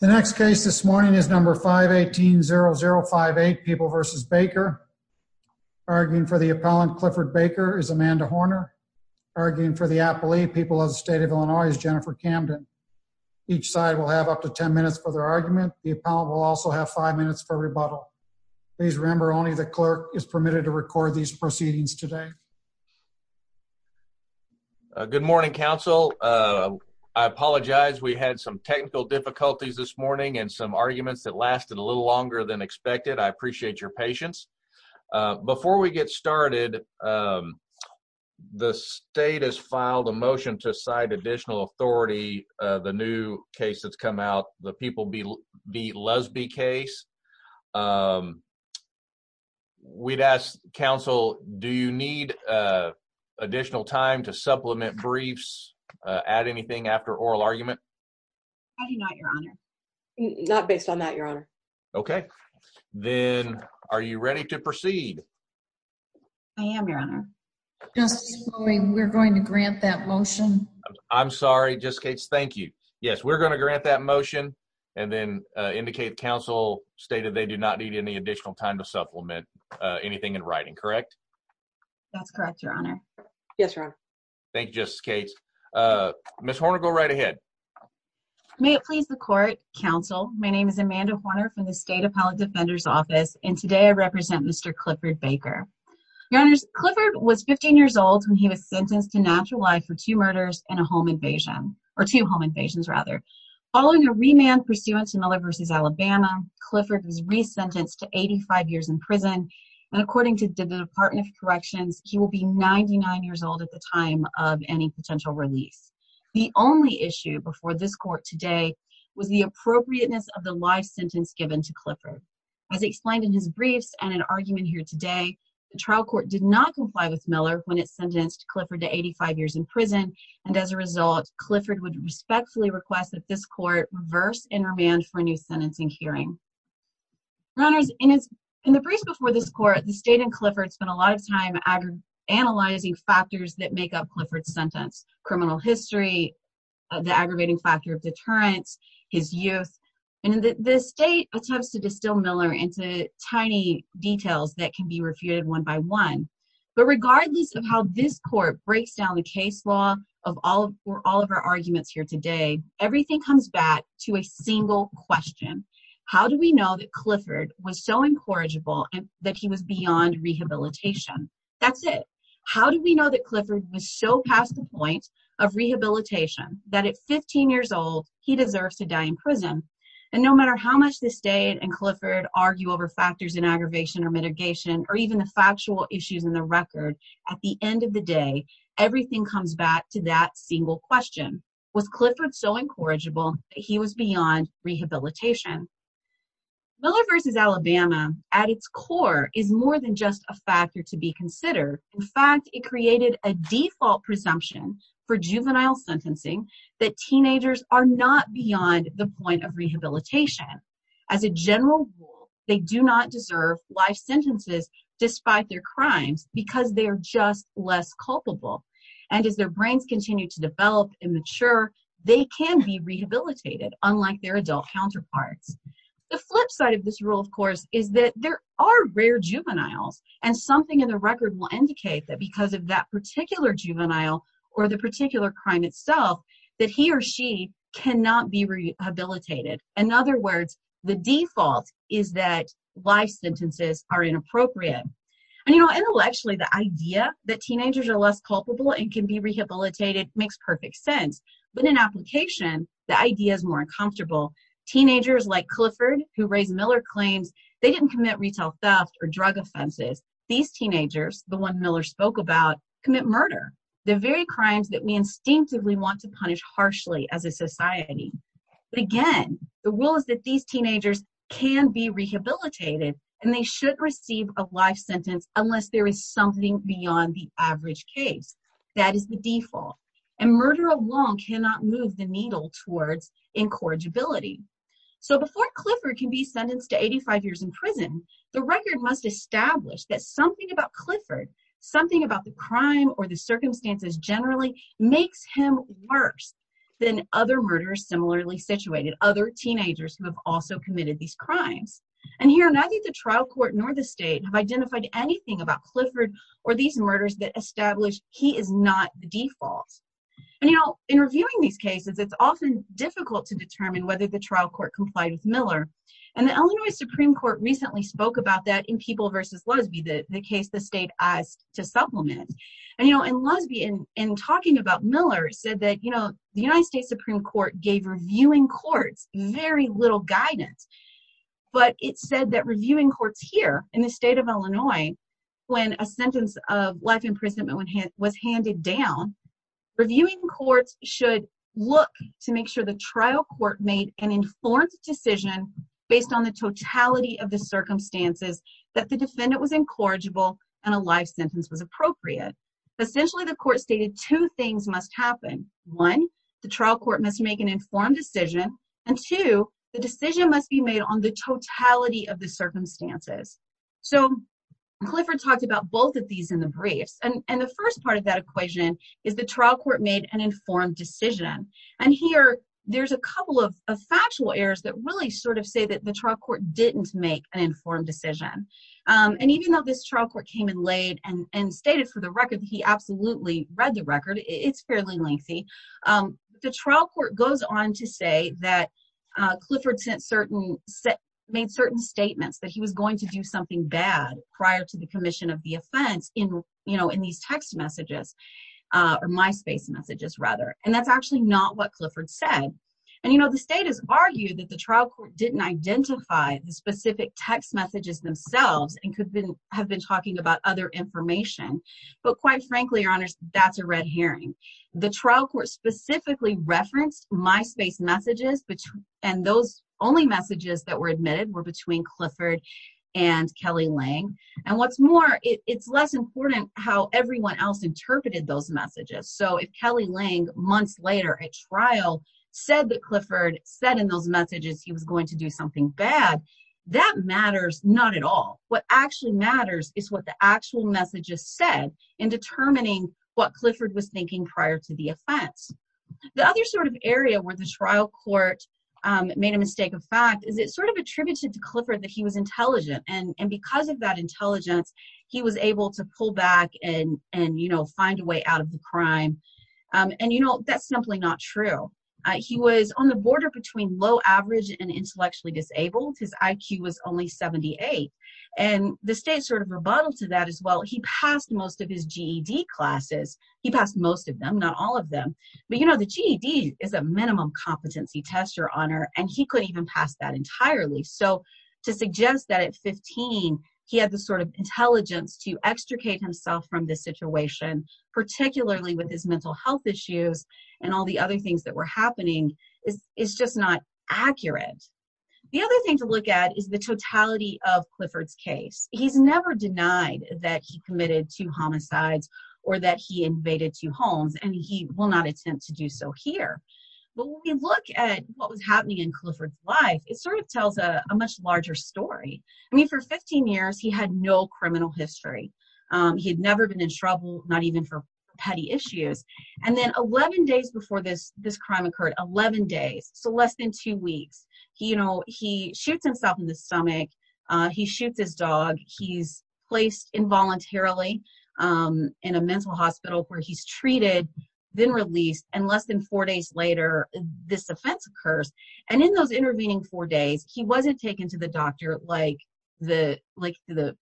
The next case this morning is number 518-0058, People v. Baker. Arguing for the appellant, Clifford Baker, is Amanda Horner. Arguing for the appellee, People of the State of Illinois, is Jennifer Camden. Each side will have up to ten minutes for their argument. The appellant will also have five minutes for rebuttal. Please remember only the clerk is permitted to record these proceedings today. Good morning, Council. I apologize. We had some technical difficulties this morning and some arguments that lasted a little longer than expected. I appreciate your patience. Before we get started, the state has filed a motion to cite additional authority, the new case that's come out, the People v. Lesbie case. We'd ask Council, do you need additional time to supplement briefs, add anything after oral argument? I do not, Your Honor. Not based on that, Your Honor. Okay. Then, are you ready to proceed? I am, Your Honor. Just this morning, we're going to grant that motion. I'm sorry. Just in case, thank you. Yes, we're going to grant that motion and then state that they do not need any additional time to supplement anything in writing, correct? That's correct, Your Honor. Yes, Your Honor. Thank you, Justice Cates. Ms. Horner, go right ahead. May it please the court, Council. My name is Amanda Horner from the State Appellate Defender's Office. Today, I represent Mr. Clifford Baker. Your Honors, Clifford was 15 years old when he was sentenced to natural life for two home invasions. Following a remand pursuant to Miller v. Alabama, Clifford was resentenced to 85 years in prison. And according to the Department of Corrections, he will be 99 years old at the time of any potential release. The only issue before this court today was the appropriateness of the life sentence given to Clifford. As explained in his briefs and an argument here today, the trial court did not comply with Miller when it sentenced Clifford to 85 years in prison. And as a result, Clifford would respectfully request that this court reverse and remand for a new sentencing hearing. Your Honors, in the briefs before this court, the State and Clifford spent a lot of time analyzing factors that make up Clifford's sentence. Criminal history, the aggravating factor of deterrence, his youth. And the State attempts to distill Miller into tiny details that can be refuted one by one. But regardless of how this court breaks down the case law of all of our arguments here today, everything comes back to a single question. How do we know that Clifford was so incorrigible and that he was beyond rehabilitation? That's it. How do we know that Clifford was so past the point of rehabilitation that at 15 years old, he deserves to die in prison? And no matter how much the State and Clifford argue over factors in aggravation or mitigation, or even the factual issues in the record, at the end of the day, everything comes back to that single question. Was Clifford so incorrigible that he was beyond rehabilitation? Miller v. Alabama, at its core, is more than just a factor to be considered. In fact, it created a default presumption for juvenile sentencing that teenagers are not beyond the point of rehabilitation. As a general rule, they do not deserve life sentences despite their crimes because they are just less culpable. And as their brains continue to develop and mature, they can be rehabilitated, unlike their adult counterparts. The flip side of this rule, of course, is that there are rare juveniles, and something in the record will indicate that because of that particular juvenile or the particular crime itself, that he or she cannot be rehabilitated. In other words, the default is that life sentences are inappropriate. And intellectually, the idea that teenagers are less culpable and can be rehabilitated makes perfect sense. But in application, the idea is more uncomfortable. Teenagers like Clifford, who raised Miller claims, they didn't commit retail theft or drug offenses. These teenagers, the one Miller spoke about, commit murder. The very crimes that we instinctively want to punish harshly as a society. But again, the rule is that these teenagers can be rehabilitated, and they should receive a life sentence unless there is something beyond the average case. That is the default. And murder alone cannot move the needle towards incorrigibility. So before Clifford can be sentenced to 85 years in prison, the record must establish that something about Clifford, something about the crime or the circumstances generally, makes him worse than other murderers similarly situated, other teenagers who have also committed these crimes. And here, neither the trial court nor the state have identified anything about Clifford or these murders that establish he is not the default. And in reviewing these cases, it's often difficult to determine whether the trial court complied with Miller. And the Illinois Supreme Court recently spoke about that in People v. Loesbe, the case the state asked to supplement. And Loesbe, in talking about Miller, said that the United States Supreme Court gave reviewing courts very little guidance. But it said that reviewing courts here in the state of Illinois, when a sentence of life imprisonment was handed down, reviewing courts should look to make sure the trial court made an informed decision based on the totality of the circumstances that the defendant was incorrigible and a life sentence was appropriate. Essentially, the court stated two things must happen. One, the trial court must make an informed decision. And two, the decision must be made on the totality of the circumstances. So Clifford talked about both of these in the briefs. And the first part of that equation is the trial court made an informed decision. And here, there's a couple of factual errors that really sort of say that the trial court didn't make an informed decision. And even though this trial court came in late and stated for the record that he absolutely read the record, it's fairly lengthy, the trial court goes on to say that Clifford made certain statements that he was going to do something bad prior to the commission of the offense in these text messages or MySpace messages rather. And that's actually not what Clifford said. And the state has argued that the trial court didn't identify the specific text messages themselves and could have been talking about other information. But quite frankly, your honors, that's a red herring. The trial court specifically referenced MySpace messages and those only messages that were admitted were between Clifford and Kelly Lang. And what's more, it's less important how everyone else interpreted those messages. So if Kelly Lang months later at trial said that Clifford said in those messages he was going to do something bad, that matters not at all. What actually matters is what the actual messages said in determining what Clifford was thinking prior to the offense. The other sort of area where the trial court made a mistake of fact is it sort of attributed to Clifford that he was intelligent. And because of that intelligence, he was able to pull back and find a way out of the crime. And that's simply not true. He was on the border between low average and intellectually disabled, his IQ was only 78. And the state sort of rebuttal to that as well, he passed most of his GED classes. He passed most of them, not all of them. But you know, the GED is a minimum competency test, Your Honor, and he could even pass that entirely. So to suggest that at 15, he had the sort of intelligence to extricate himself from this situation, particularly with his mental health issues and all the other things that were happening is just not accurate. The other thing to look at is the totality of Clifford's case. He's never denied that he committed two homicides or that he invaded two homes and he will not attempt to do so here. But when we look at what was happening in Clifford's life, it sort of tells a much larger story. I mean, for 15 years, he had no criminal history. He had never been in trouble, not even for petty issues. And then 11 days before this crime occurred, 11 days, so less than two weeks, he, you know, he shoots himself in the stomach. He shoots his dog. He's placed involuntarily in a mental hospital where he's treated, then released. And less than four days later, this offense occurs. And in those intervening four days, he wasn't taken to the doctor like the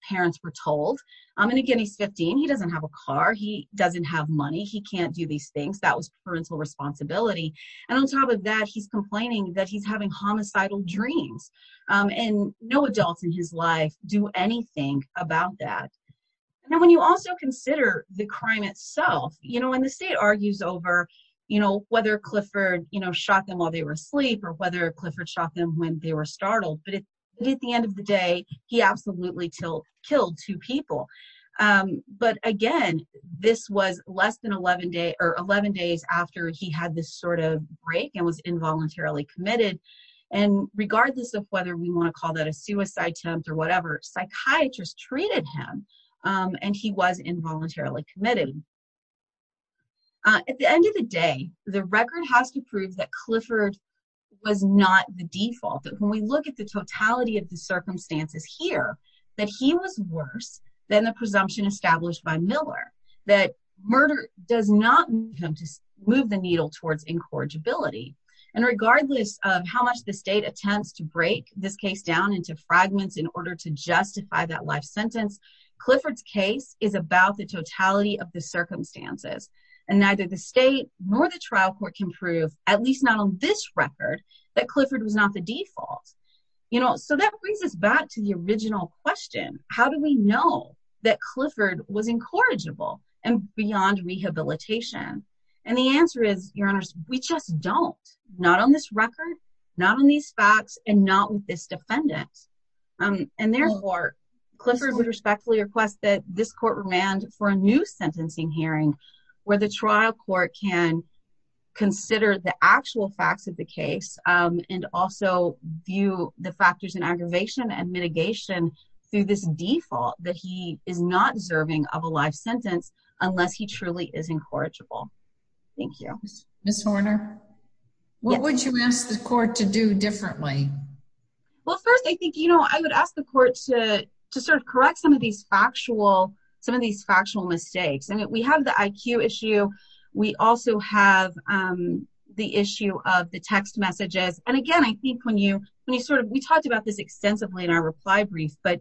parents were told. And again, he's 15. He doesn't have a car. He doesn't have money. He can't do these things. That was parental responsibility. And on top of that, he's complaining that he's having homicidal dreams. And no adults in his life do anything about that. Now, when you also consider the crime itself, you know, and the state argues over, you know, whether Clifford, you know, shot them while they were asleep or whether Clifford shot them when they were startled. But at the end of the day, he absolutely killed two people. But again, this was less than 11 days after he had this sort of break and was involuntarily committed. And regardless of whether we want to call that a suicide attempt or whatever, psychiatrists treated him and he was involuntarily committed. At the end of the day, the record has to prove that Clifford was not the default, that when we look at the totality of the circumstances here that he was worse than the presumption established by Miller that murder does not move the needle towards incorrigibility. And regardless of how much the state attempts to break this case down into fragments in order to justify that life sentence, Clifford's case is about the totality of the circumstances. And neither the state nor the trial court can prove, at least not on this record, that Clifford was not the default. You know, so that brings us back to the original question. How do we know that Clifford was incorrigible and beyond rehabilitation? And the answer is, your honors, we just don't. Not on this record, not on these facts, and not with this defendant. And therefore, Clifford would respectfully request that this court remand for a new sentencing hearing where the trial court can consider the actual facts of the case and also view the factors in aggravation and mitigation through this default that he is not deserving of a life sentence unless he truly is incorrigible. Thank you. Ms. Horner, what would you ask the court to do differently? Well, first, I think, you know, I would ask the court to sort of correct some of these factual mistakes. And we have the IQ issue. We also have the issue of the text messages. And again, I think when you sort of, we talked about this extensively in our reply brief, but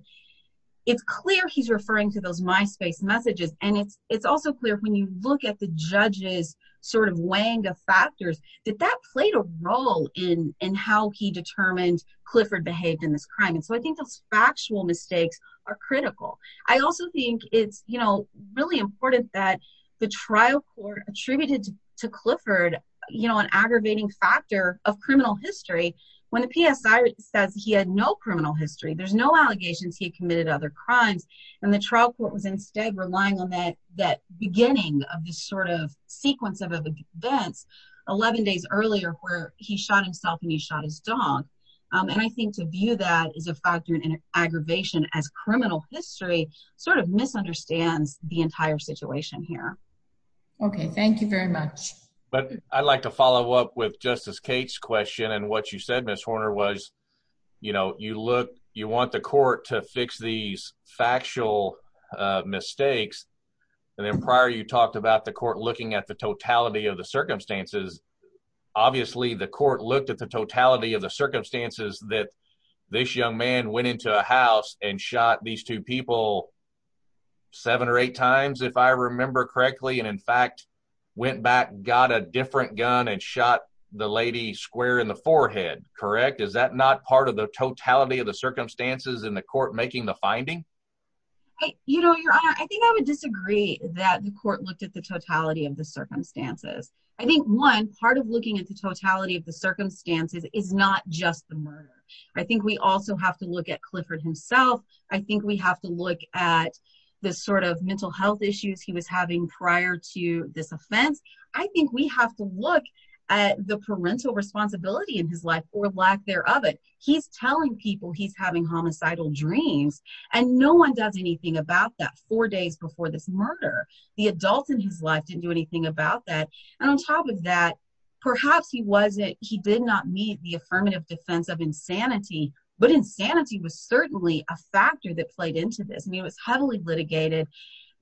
it's clear he's referring to those Myspace messages. And it's also clear when you look at the judge's sort of wang of factors, that that played a role in how he determined Clifford behaved in this crime. And so I think those factual mistakes are critical. I also think it's, you know, really important that the trial court attributed to Clifford, you know, an aggravating factor of criminal history. When the PSI says he had no criminal history, there's no allegations he committed other crimes. And the trial court was instead relying on that, that beginning of this sort of sequence of events, 11 days earlier where he shot himself and he shot his dog. And I think to view that as a factor in aggravation as criminal history sort of misunderstands the entire situation here. Okay, thank you very much. But I'd like to follow up with Justice Kate's question. And what you said, Ms. Horner was, you know, you want the court to fix these factual mistakes. And then prior, you talked about the court looking at the totality of the circumstances. Obviously the court looked at the totality of the circumstances that this young man went into a house and shot these two people seven or eight times, if I remember correctly. And in fact, went back, got a different gun and shot the lady square in the forehead, correct? Is that not part of the totality of the circumstances in the court making the finding? You know, Your Honor, I think I would disagree that the court looked at the totality of the circumstances. I think one part of looking at the totality of the circumstances is not just the murder. I think we also have to look at Clifford himself. I think we have to look at the sort of mental health issues he was having prior to this offense. I think we have to look at the parental responsibility in his life or lack there of it. He's telling people he's having homicidal dreams and no one does anything about that four days before this murder. The adults in his life didn't do anything about that. And on top of that, perhaps he did not meet the affirmative defense of insanity, but insanity was certainly a factor that played into this. I mean, it was heavily litigated.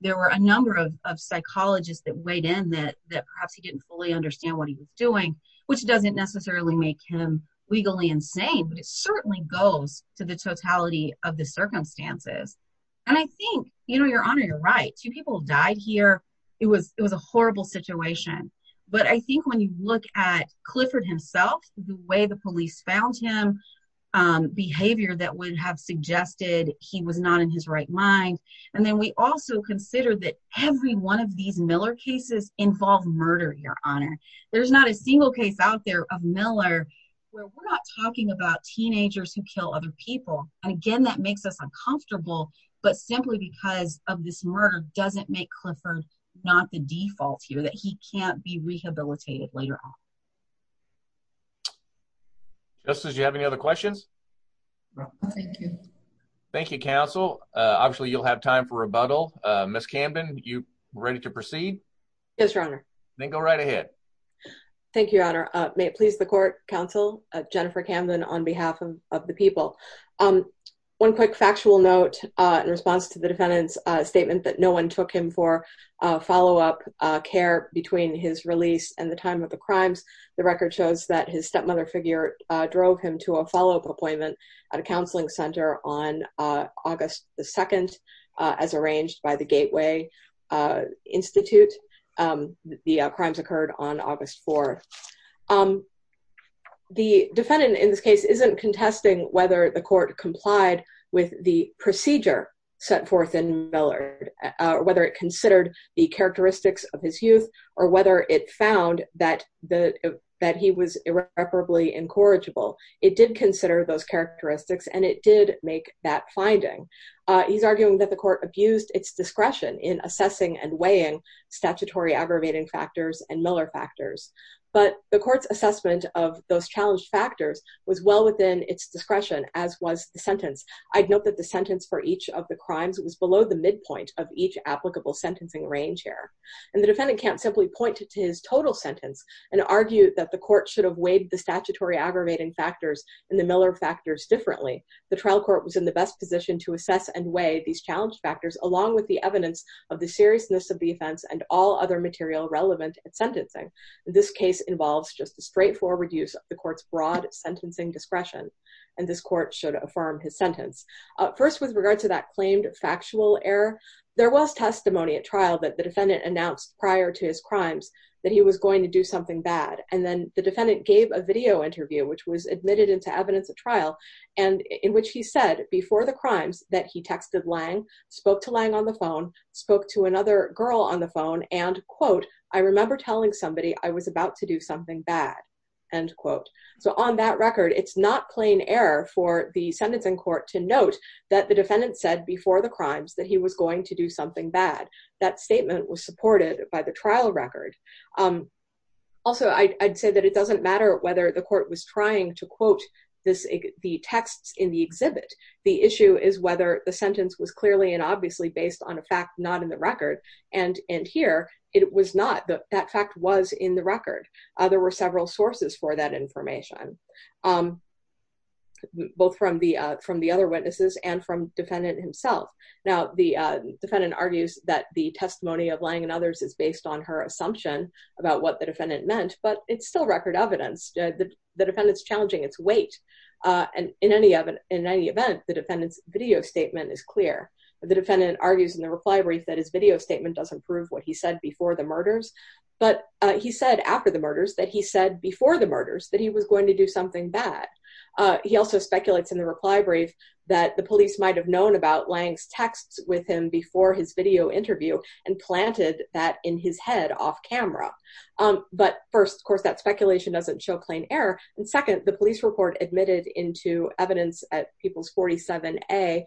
There were a number of psychologists that weighed in that perhaps he didn't fully understand what he was doing, which doesn't necessarily make him legally insane, but it certainly goes to the totality of the circumstances. And I think, Your Honor, you're right. Two people died here. It was a horrible situation. But I think when you look at Clifford himself, the way the police found him, behavior that would have suggested he was not in his right mind. And then we also consider that every one of these Miller cases involve murder, Your Honor. There's not a single case out there of Miller where we're not talking about teenagers who kill other people. And again, that makes us uncomfortable, but simply because of this murder doesn't make Clifford not the default here that he can't be rehabilitated later on. Justice, do you have any other questions? No. Thank you. Thank you, counsel. Obviously, you'll have time for rebuttal. Ms. Camden, you ready to proceed? Yes, Your Honor. Then go right ahead. Thank you, Your Honor. May it please the court, counsel, Jennifer Camden on behalf of the people. One quick factual note in response to the defendant's statement that no one took him for follow-up care between his release and the time of the crimes. The record shows that his stepmother figure drove him to a follow-up appointment at a counseling center on August the 2nd as arranged by the Gateway Institute. The crimes occurred on August 4th. The defendant in this case isn't contesting whether the court complied with the procedure set forth in Millard, whether it considered the characteristics of his youth or whether it found that he was irreparably incorrigible. It did consider those characteristics and it did make that finding. He's arguing that the court abused its discretion in assessing and weighing statutory aggravating factors and Miller factors. But the court's assessment of those challenged factors was well within its discretion, as was the sentence. I'd note that the sentence for each of the crimes was below the midpoint of each applicable sentencing range here. And the defendant can't simply point to his total sentence and argue that the court should have weighed the statutory aggravating factors and the Miller factors differently. The trial court was in the best position to assess and weigh these challenged factors along with the evidence of the seriousness of the offense and all other material relevant at sentencing. This case involves just a straightforward use of the court's broad sentencing discretion. And this court should affirm his sentence. First with regard to that claimed factual error, there was testimony at trial that the defendant announced prior to his crimes that he was going to do something bad. And then the defendant gave a video interview which was admitted into evidence at trial and in which he said before the crimes that he texted Lang, spoke to Lang on the phone, spoke to another girl on the phone and quote, I remember telling somebody I was about to do something bad, end quote. So on that record, it's not plain error for the sentencing court to note that the defendant said before the crimes that he was going to do something bad. That statement was supported by the trial record. Also, I'd say that it doesn't matter whether the court was trying to quote the texts in the exhibit. The issue is whether the sentence was clearly and obviously based on a fact not in the record. And here, it was not. That fact was in the record. There were several sources for that information, both from the other witnesses and from defendant himself. Now, the defendant argues that the testimony of Lang and others is based on her assumption about what the defendant meant, but it's still record evidence. The defendant's challenging its weight. And in any event, the defendant's video statement is clear. The defendant argues in the reply brief that his video statement doesn't prove what he said before the murders, but he said after the murders that he said before the murders that he was going to do something bad. He also speculates in the reply brief that the police might have known about Lang's texts with him before his video interview and planted that in his head off camera. But first, of course, that speculation doesn't show plain error. And second, the police report admitted into evidence at Peoples 47A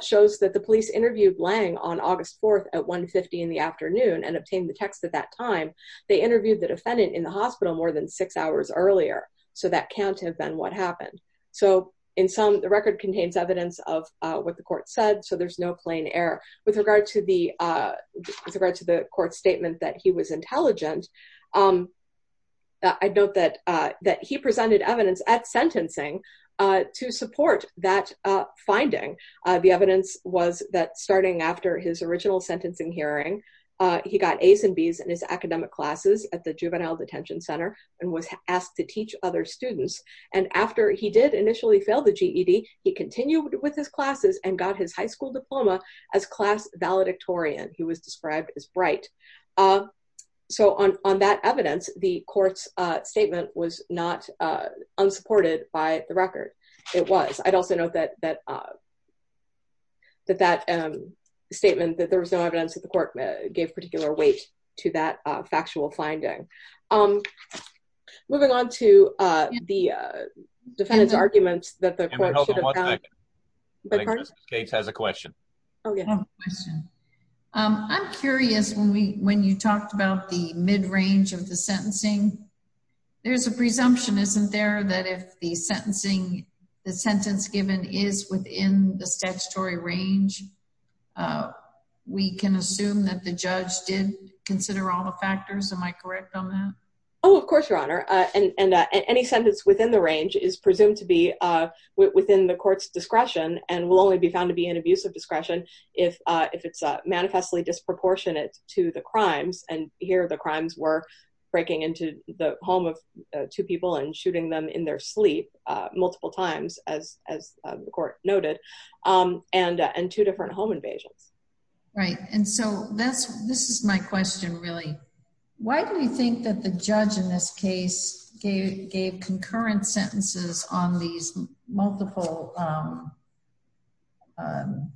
shows that the police interviewed Lang on August 4th at 1.50 in the afternoon and obtained the text at that time. They interviewed the defendant in the hospital more than six hours earlier, so that can't have been what happened. So in sum, the record contains evidence of what the court said, so there's no plain error. With regard to the court statement that he was intelligent, I'd note that he presented evidence at sentencing to support that finding. The evidence was that starting after his original sentencing hearing, he got A's and B's in his academic classes at the Juvenile Detention Center and was asked to teach other students. And after he did initially fail the GED, he continued with his classes and got his high school diploma as class valedictorian. He was described as bright. So on that evidence, the court's statement was not unsupported by the record. It was. I'd also note that that statement, that there was no evidence that the court gave particular weight to that factual finding. Moving on to the defendant's arguments that the court should have found. Can we hold on one second? The court? I think Justice Gates has a question. Okay. I have a question. I'm curious, when you talked about the mid-range of the sentencing, there's a presumption, isn't there, that if the sentence given is within the statutory range, we can assume that the judge did consider all the factors? Am I correct on that? Oh, of course, Your Honor. And any sentence within the range is presumed to be within the court's discretion and will only be found to be in abusive discretion if it's manifestly disproportionate to the crimes. And here, the crimes were breaking into the home of two people and shooting them in their sleep multiple times, as the court noted, and two different home invasions. Right, and so this is my question, really. Why do you think that the judge in this case gave concurrent sentences on these multiple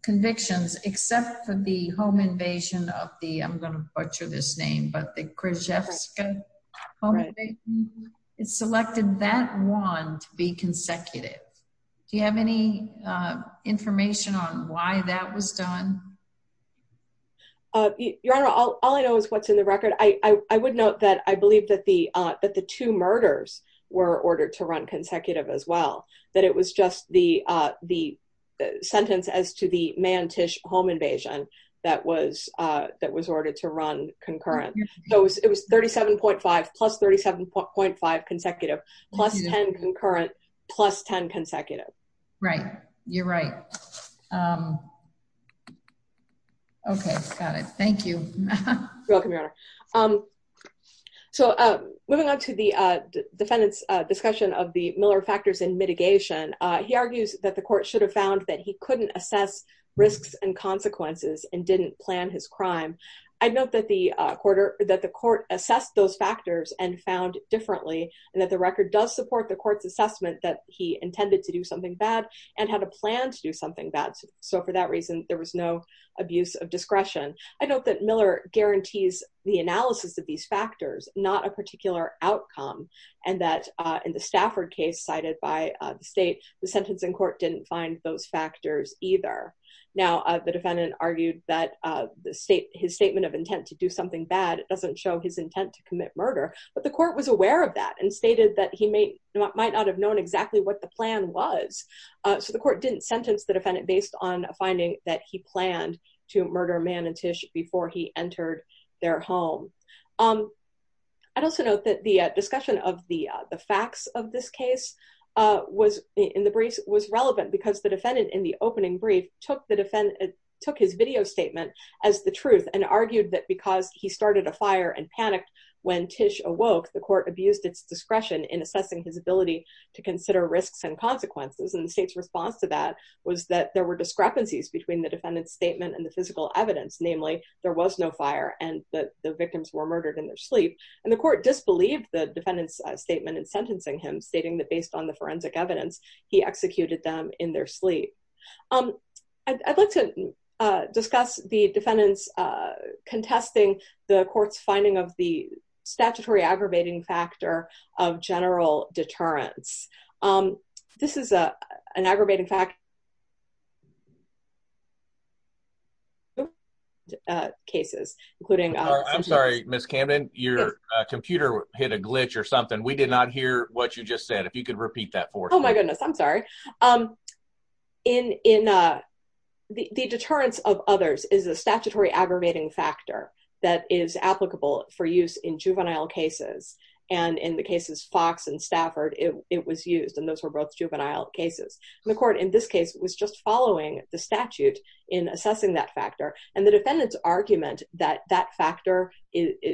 convictions except for the home invasion of the, I'm gonna butcher this name, but the Krzyzewska home invasion? It selected that one to be consecutive. Do you have any information on why that was done? Your Honor, all I know is what's in the record. I would note that I believe that the two murders were ordered to run consecutive as well, that it was just the sentence as to the Mantish home invasion that was ordered to run concurrent. So it was 37.5 plus 37.5 consecutive plus 10 concurrent plus 10 consecutive. Right, you're right. Okay, got it, thank you. You're welcome, Your Honor. So moving on to the defendant's discussion of the Miller factors in mitigation, he argues that the court should have found that he couldn't assess risks and consequences and didn't plan his crime. I'd note that the court assessed those factors and found differently, and that the record does support the court's assessment that he intended to do something bad and had a plan to do something bad. So for that reason, there was no abuse of discretion. I note that Miller guarantees the analysis of these factors, not a particular outcome, and that in the Stafford case cited by the state, the sentencing court didn't find those factors either. Now, the defendant argued that his statement of intent to do something bad, it doesn't show his intent to commit murder, but the court was aware of that and stated that he might not have known exactly what the plan was. So the court didn't sentence the defendant based on a finding that he planned to murder Mantish before he entered their home. I'd also note that the discussion of the facts of this case in the briefs was relevant because the defendant in the opening brief took his video statement as the truth and argued that because he started a fire and panicked when Tish awoke, the court abused its discretion in assessing his ability to consider risks and consequences. And the state's response to that was that there were discrepancies between the defendant's statement and the physical evidence. Namely, there was no fire and the victims were murdered in their sleep. And the court disbelieved the defendant's statement in sentencing him, stating that based on the forensic evidence, he executed them in their sleep. I'd like to discuss the defendant's contesting the court's finding of the statutory aggravating factor of general deterrence. This is an aggravating fact. Okay. Cases, including- I'm sorry, Ms. Camden, your computer hit a glitch or something. We did not hear what you just said. If you could repeat that for us. Oh my goodness, I'm sorry. In the deterrence of others is a statutory aggravating factor that is applicable for use in juvenile cases. And in the cases Fox and Stafford, it was used and those were both juvenile cases. The court in this case was just following the statute in assessing that factor. And the defendant's argument that that factor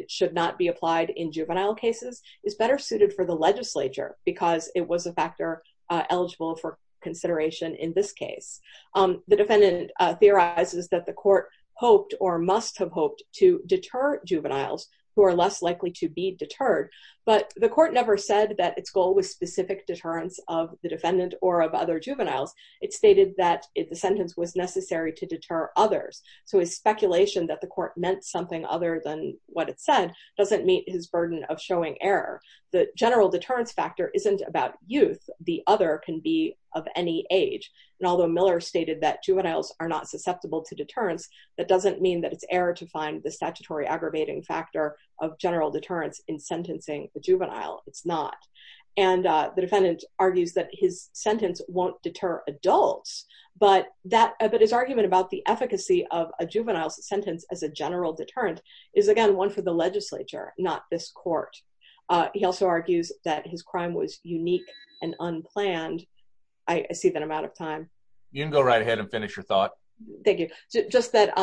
should not be applied in juvenile cases is better suited for the legislature because it was a factor eligible for consideration in this case. The defendant theorizes that the court hoped or must have hoped to deter juveniles who are less likely to be deterred. But the court never said that its goal was specific deterrence of the defendant or of other juveniles. It stated that the sentence was necessary to deter others. So his speculation that the court meant something other than what it said doesn't meet his burden of showing error. The general deterrence factor isn't about youth. The other can be of any age. And although Miller stated that juveniles are not susceptible to deterrence, that doesn't mean that it's error to find the statutory aggravating factor of general deterrence in sentencing the juvenile. It's not. And the defendant argues that his sentence won't deter adults, but his argument about the efficacy of a juvenile's sentence as a general deterrent is again, one for the legislature, not this court. He also argues that his crime was unique and unplanned. I see that I'm out of time. You can go right ahead and finish your thought. Thank you. Just that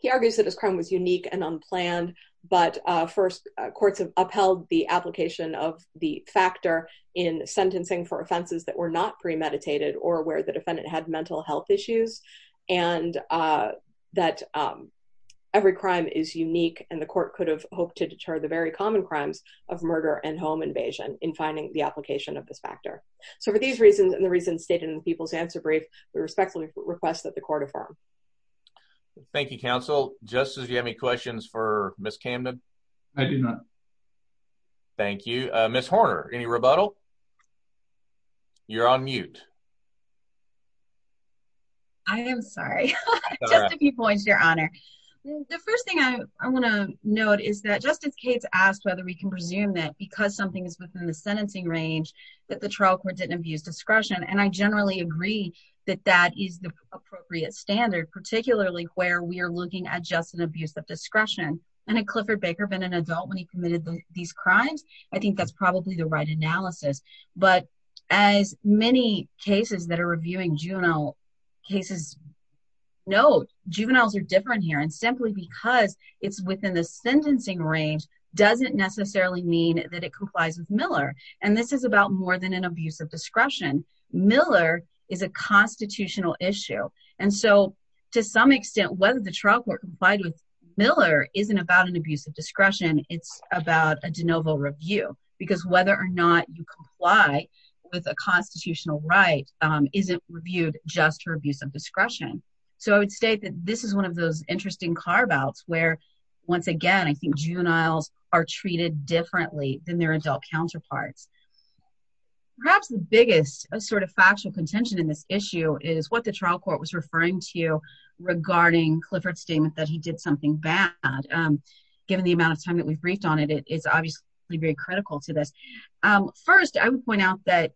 he argues that his crime was unique and unplanned, but first courts have upheld the application of the factor in sentencing for offenses that were not premeditated or where the defendant had mental health issues and that every crime is unique and the court could have hoped to deter the very common crimes of murder and home invasion in finding the application of this factor. So for these reasons and the reasons stated in the people's answer brief, we respectfully request that the court affirm. Thank you, counsel. Justice, do you have any questions for Ms. Camden? I do not. Thank you. Ms. Horner, any rebuttal? You're on mute. I am sorry. Just a few points, your honor. The first thing I want to note is that Justice Cates asked whether we can presume that because something is within the sentencing range that the trial court didn't abuse discretion. And I generally agree that that is the appropriate standard, particularly where we are looking at just an abuse of discretion. And had Clifford Baker been an adult when he committed these crimes, I think that's probably the right analysis. But as many cases that are reviewing juvenile cases, no, juveniles are different here. And simply because it's within the sentencing range doesn't necessarily mean that it complies with Miller. And this is about more than an abuse of discretion. Miller is a constitutional issue. And so to some extent, whether the trial court complied with Miller isn't about an abuse of discretion. It's about a de novo review. Because whether or not you comply with a constitutional right isn't reviewed just for abuse of discretion. So I would state that this is one of those interesting carve-outs where, once again, I think juveniles are treated differently than their adult counterparts. Perhaps the biggest sort of factual contention in this issue is what the trial court was referring to regarding Clifford's statement that he did something bad. Given the amount of time that we've briefed on it, it's obviously very critical to this. First, I would point out that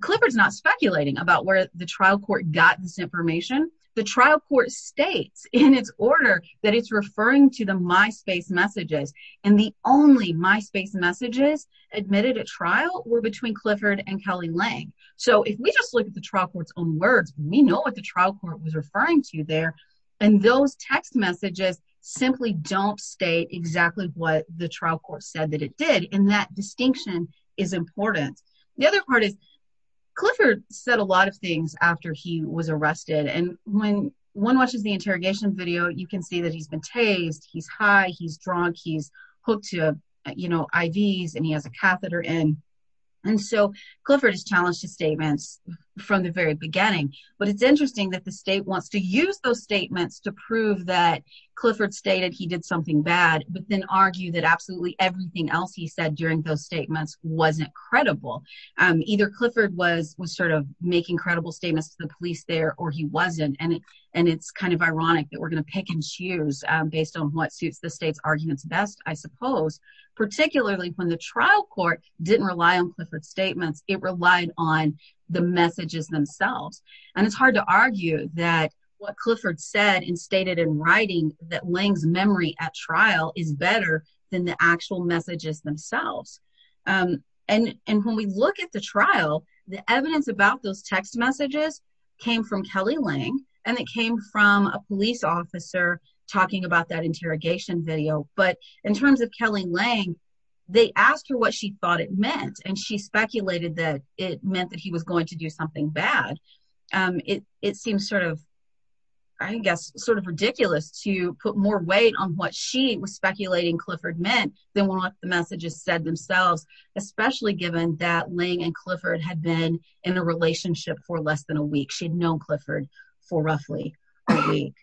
Clifford's not speculating about where the trial court got this information. The trial court states in its order that it's referring to the MySpace messages. And the only MySpace messages admitted at trial were between Clifford and Kelly Lang. So if we just look at the trial court's own words, we know what the trial court was referring to there. And those text messages simply don't state exactly what the trial court said that it did. And that distinction is important. The other part is, Clifford said a lot of things after he was arrested. And when one watches the interrogation video, you can see that he's been tased. He's high, he's drunk, he's hooked to IVs, and he has a catheter in. And so Clifford has challenged his statements from the very beginning. But it's interesting that the state wants to use those statements to prove that Clifford stated he did something bad, but then argue that absolutely everything else he said during those statements wasn't credible. Either Clifford was sort of making credible statements to the police there, or he wasn't. And it's kind of ironic that we're gonna pick and choose based on what suits the state's arguments best, I suppose. Particularly when the trial court didn't rely on Clifford's statements, it relied on the messages themselves. And it's hard to argue that what Clifford said and stated in writing that Lange's memory at trial is better than the actual messages themselves. And when we look at the trial, the evidence about those text messages came from Kelly Lange and it came from a police officer talking about that interrogation video. But in terms of Kelly Lange, they asked her what she thought it meant. And she speculated that it meant that he was going to do something bad. It seems sort of, I guess, sort of ridiculous to put more weight on what she was speculating Clifford meant than what the messages said themselves, especially given that Lange and Clifford had been in a relationship for less than a week. She had known Clifford for roughly a week.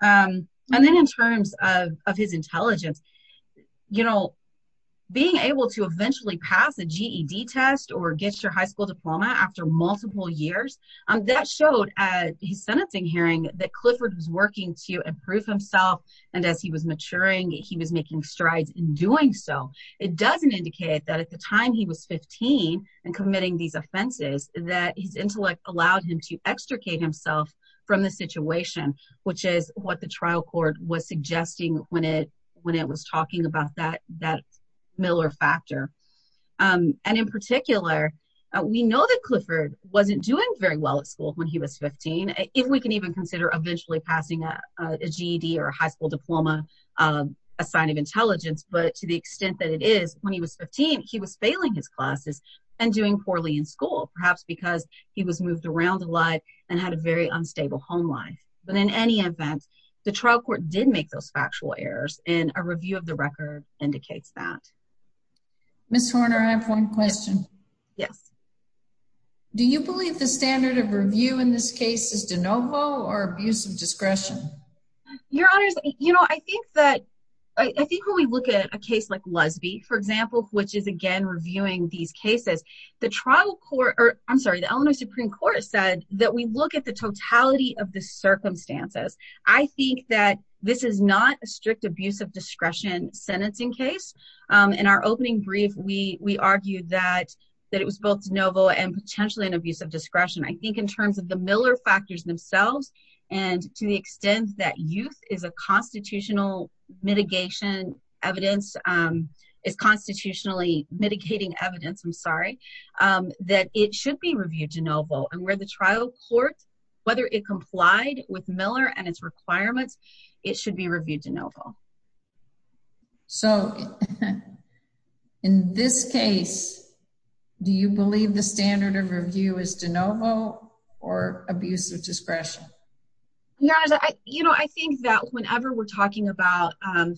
And then in terms of his intelligence, being able to eventually pass a GED test or get your high school diploma after multiple years, that showed at his sentencing hearing that Clifford was working to improve himself. And as he was maturing, he was making strides in doing so. It doesn't indicate that at the time he was 15 and committing these offenses, that his intellect allowed him to extricate himself from the situation, which is what the trial court was suggesting when it was talking about that Miller factor. And in particular, we know that Clifford wasn't doing very well at school when he was 15, if we can even consider eventually passing a GED or a high school diploma, a sign of intelligence. But to the extent that it is, when he was 15, he was failing his classes and doing poorly in school, perhaps because he was moved around a lot and had a very unstable home life. But in any event, the trial court did make those factual errors and a review of the record indicates that. Ms. Horner, I have one question. Yes. Do you believe the standard of review in this case is de novo or abuse of discretion? Your honors, I think when we look at a case like Lesbi, for example, which is again, reviewing these cases, the trial court, or I'm sorry, the Illinois Supreme Court said that we look at the totality of the circumstances. I think that this is not a strict abuse of discretion sentencing case. In our opening brief, we argued that it was both de novo and potentially an abuse of discretion. I think in terms of the Miller factors themselves, and to the extent that youth is a constitutional mitigation evidence, is constitutionally mitigating evidence, I'm sorry, that it should be reviewed de novo. And where the trial court, whether it complied with Miller and its requirements, it should be reviewed de novo. So in this case, do you believe the standard of review is de novo or abuse of discretion? Your honors, I think that whenever we're talking about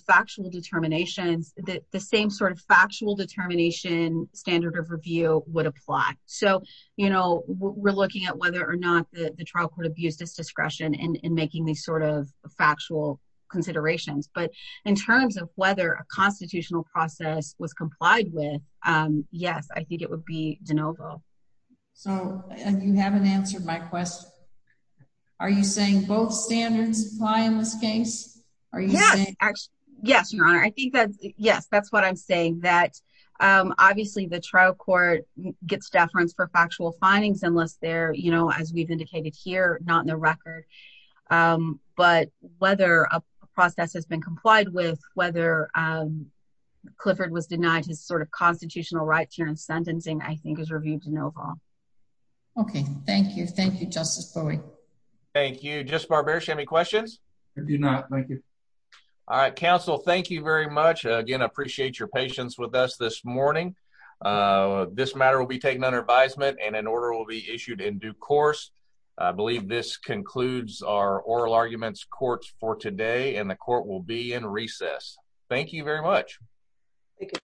factual determinations, the same sort of factual determination standard of review would apply. So we're looking at whether or not the trial court abused its discretion in making these sort of factual considerations. But in terms of whether a constitutional process was complied with, yes, I think it would be de novo. So, and you haven't answered my question. Are you saying both standards apply in this case? Are you saying- Yes, your honor. I think that, yes, that's what I'm saying, that obviously the trial court gets deference for factual findings unless they're, as we've indicated here, not in the record. But whether a process has been complied with, whether Clifford was denied his sort of constitutional rights here in sentencing, I think is reviewed de novo. Okay, thank you. Thank you, Justice Bowie. Thank you. Justice Barber, do you have any questions? I do not, thank you. All right, counsel, thank you very much. Again, I appreciate your patience with us this morning. This matter will be taken under advisement and an order will be issued in due course. I believe this concludes our oral arguments courts for today and the court will be in recess. Thank you very much.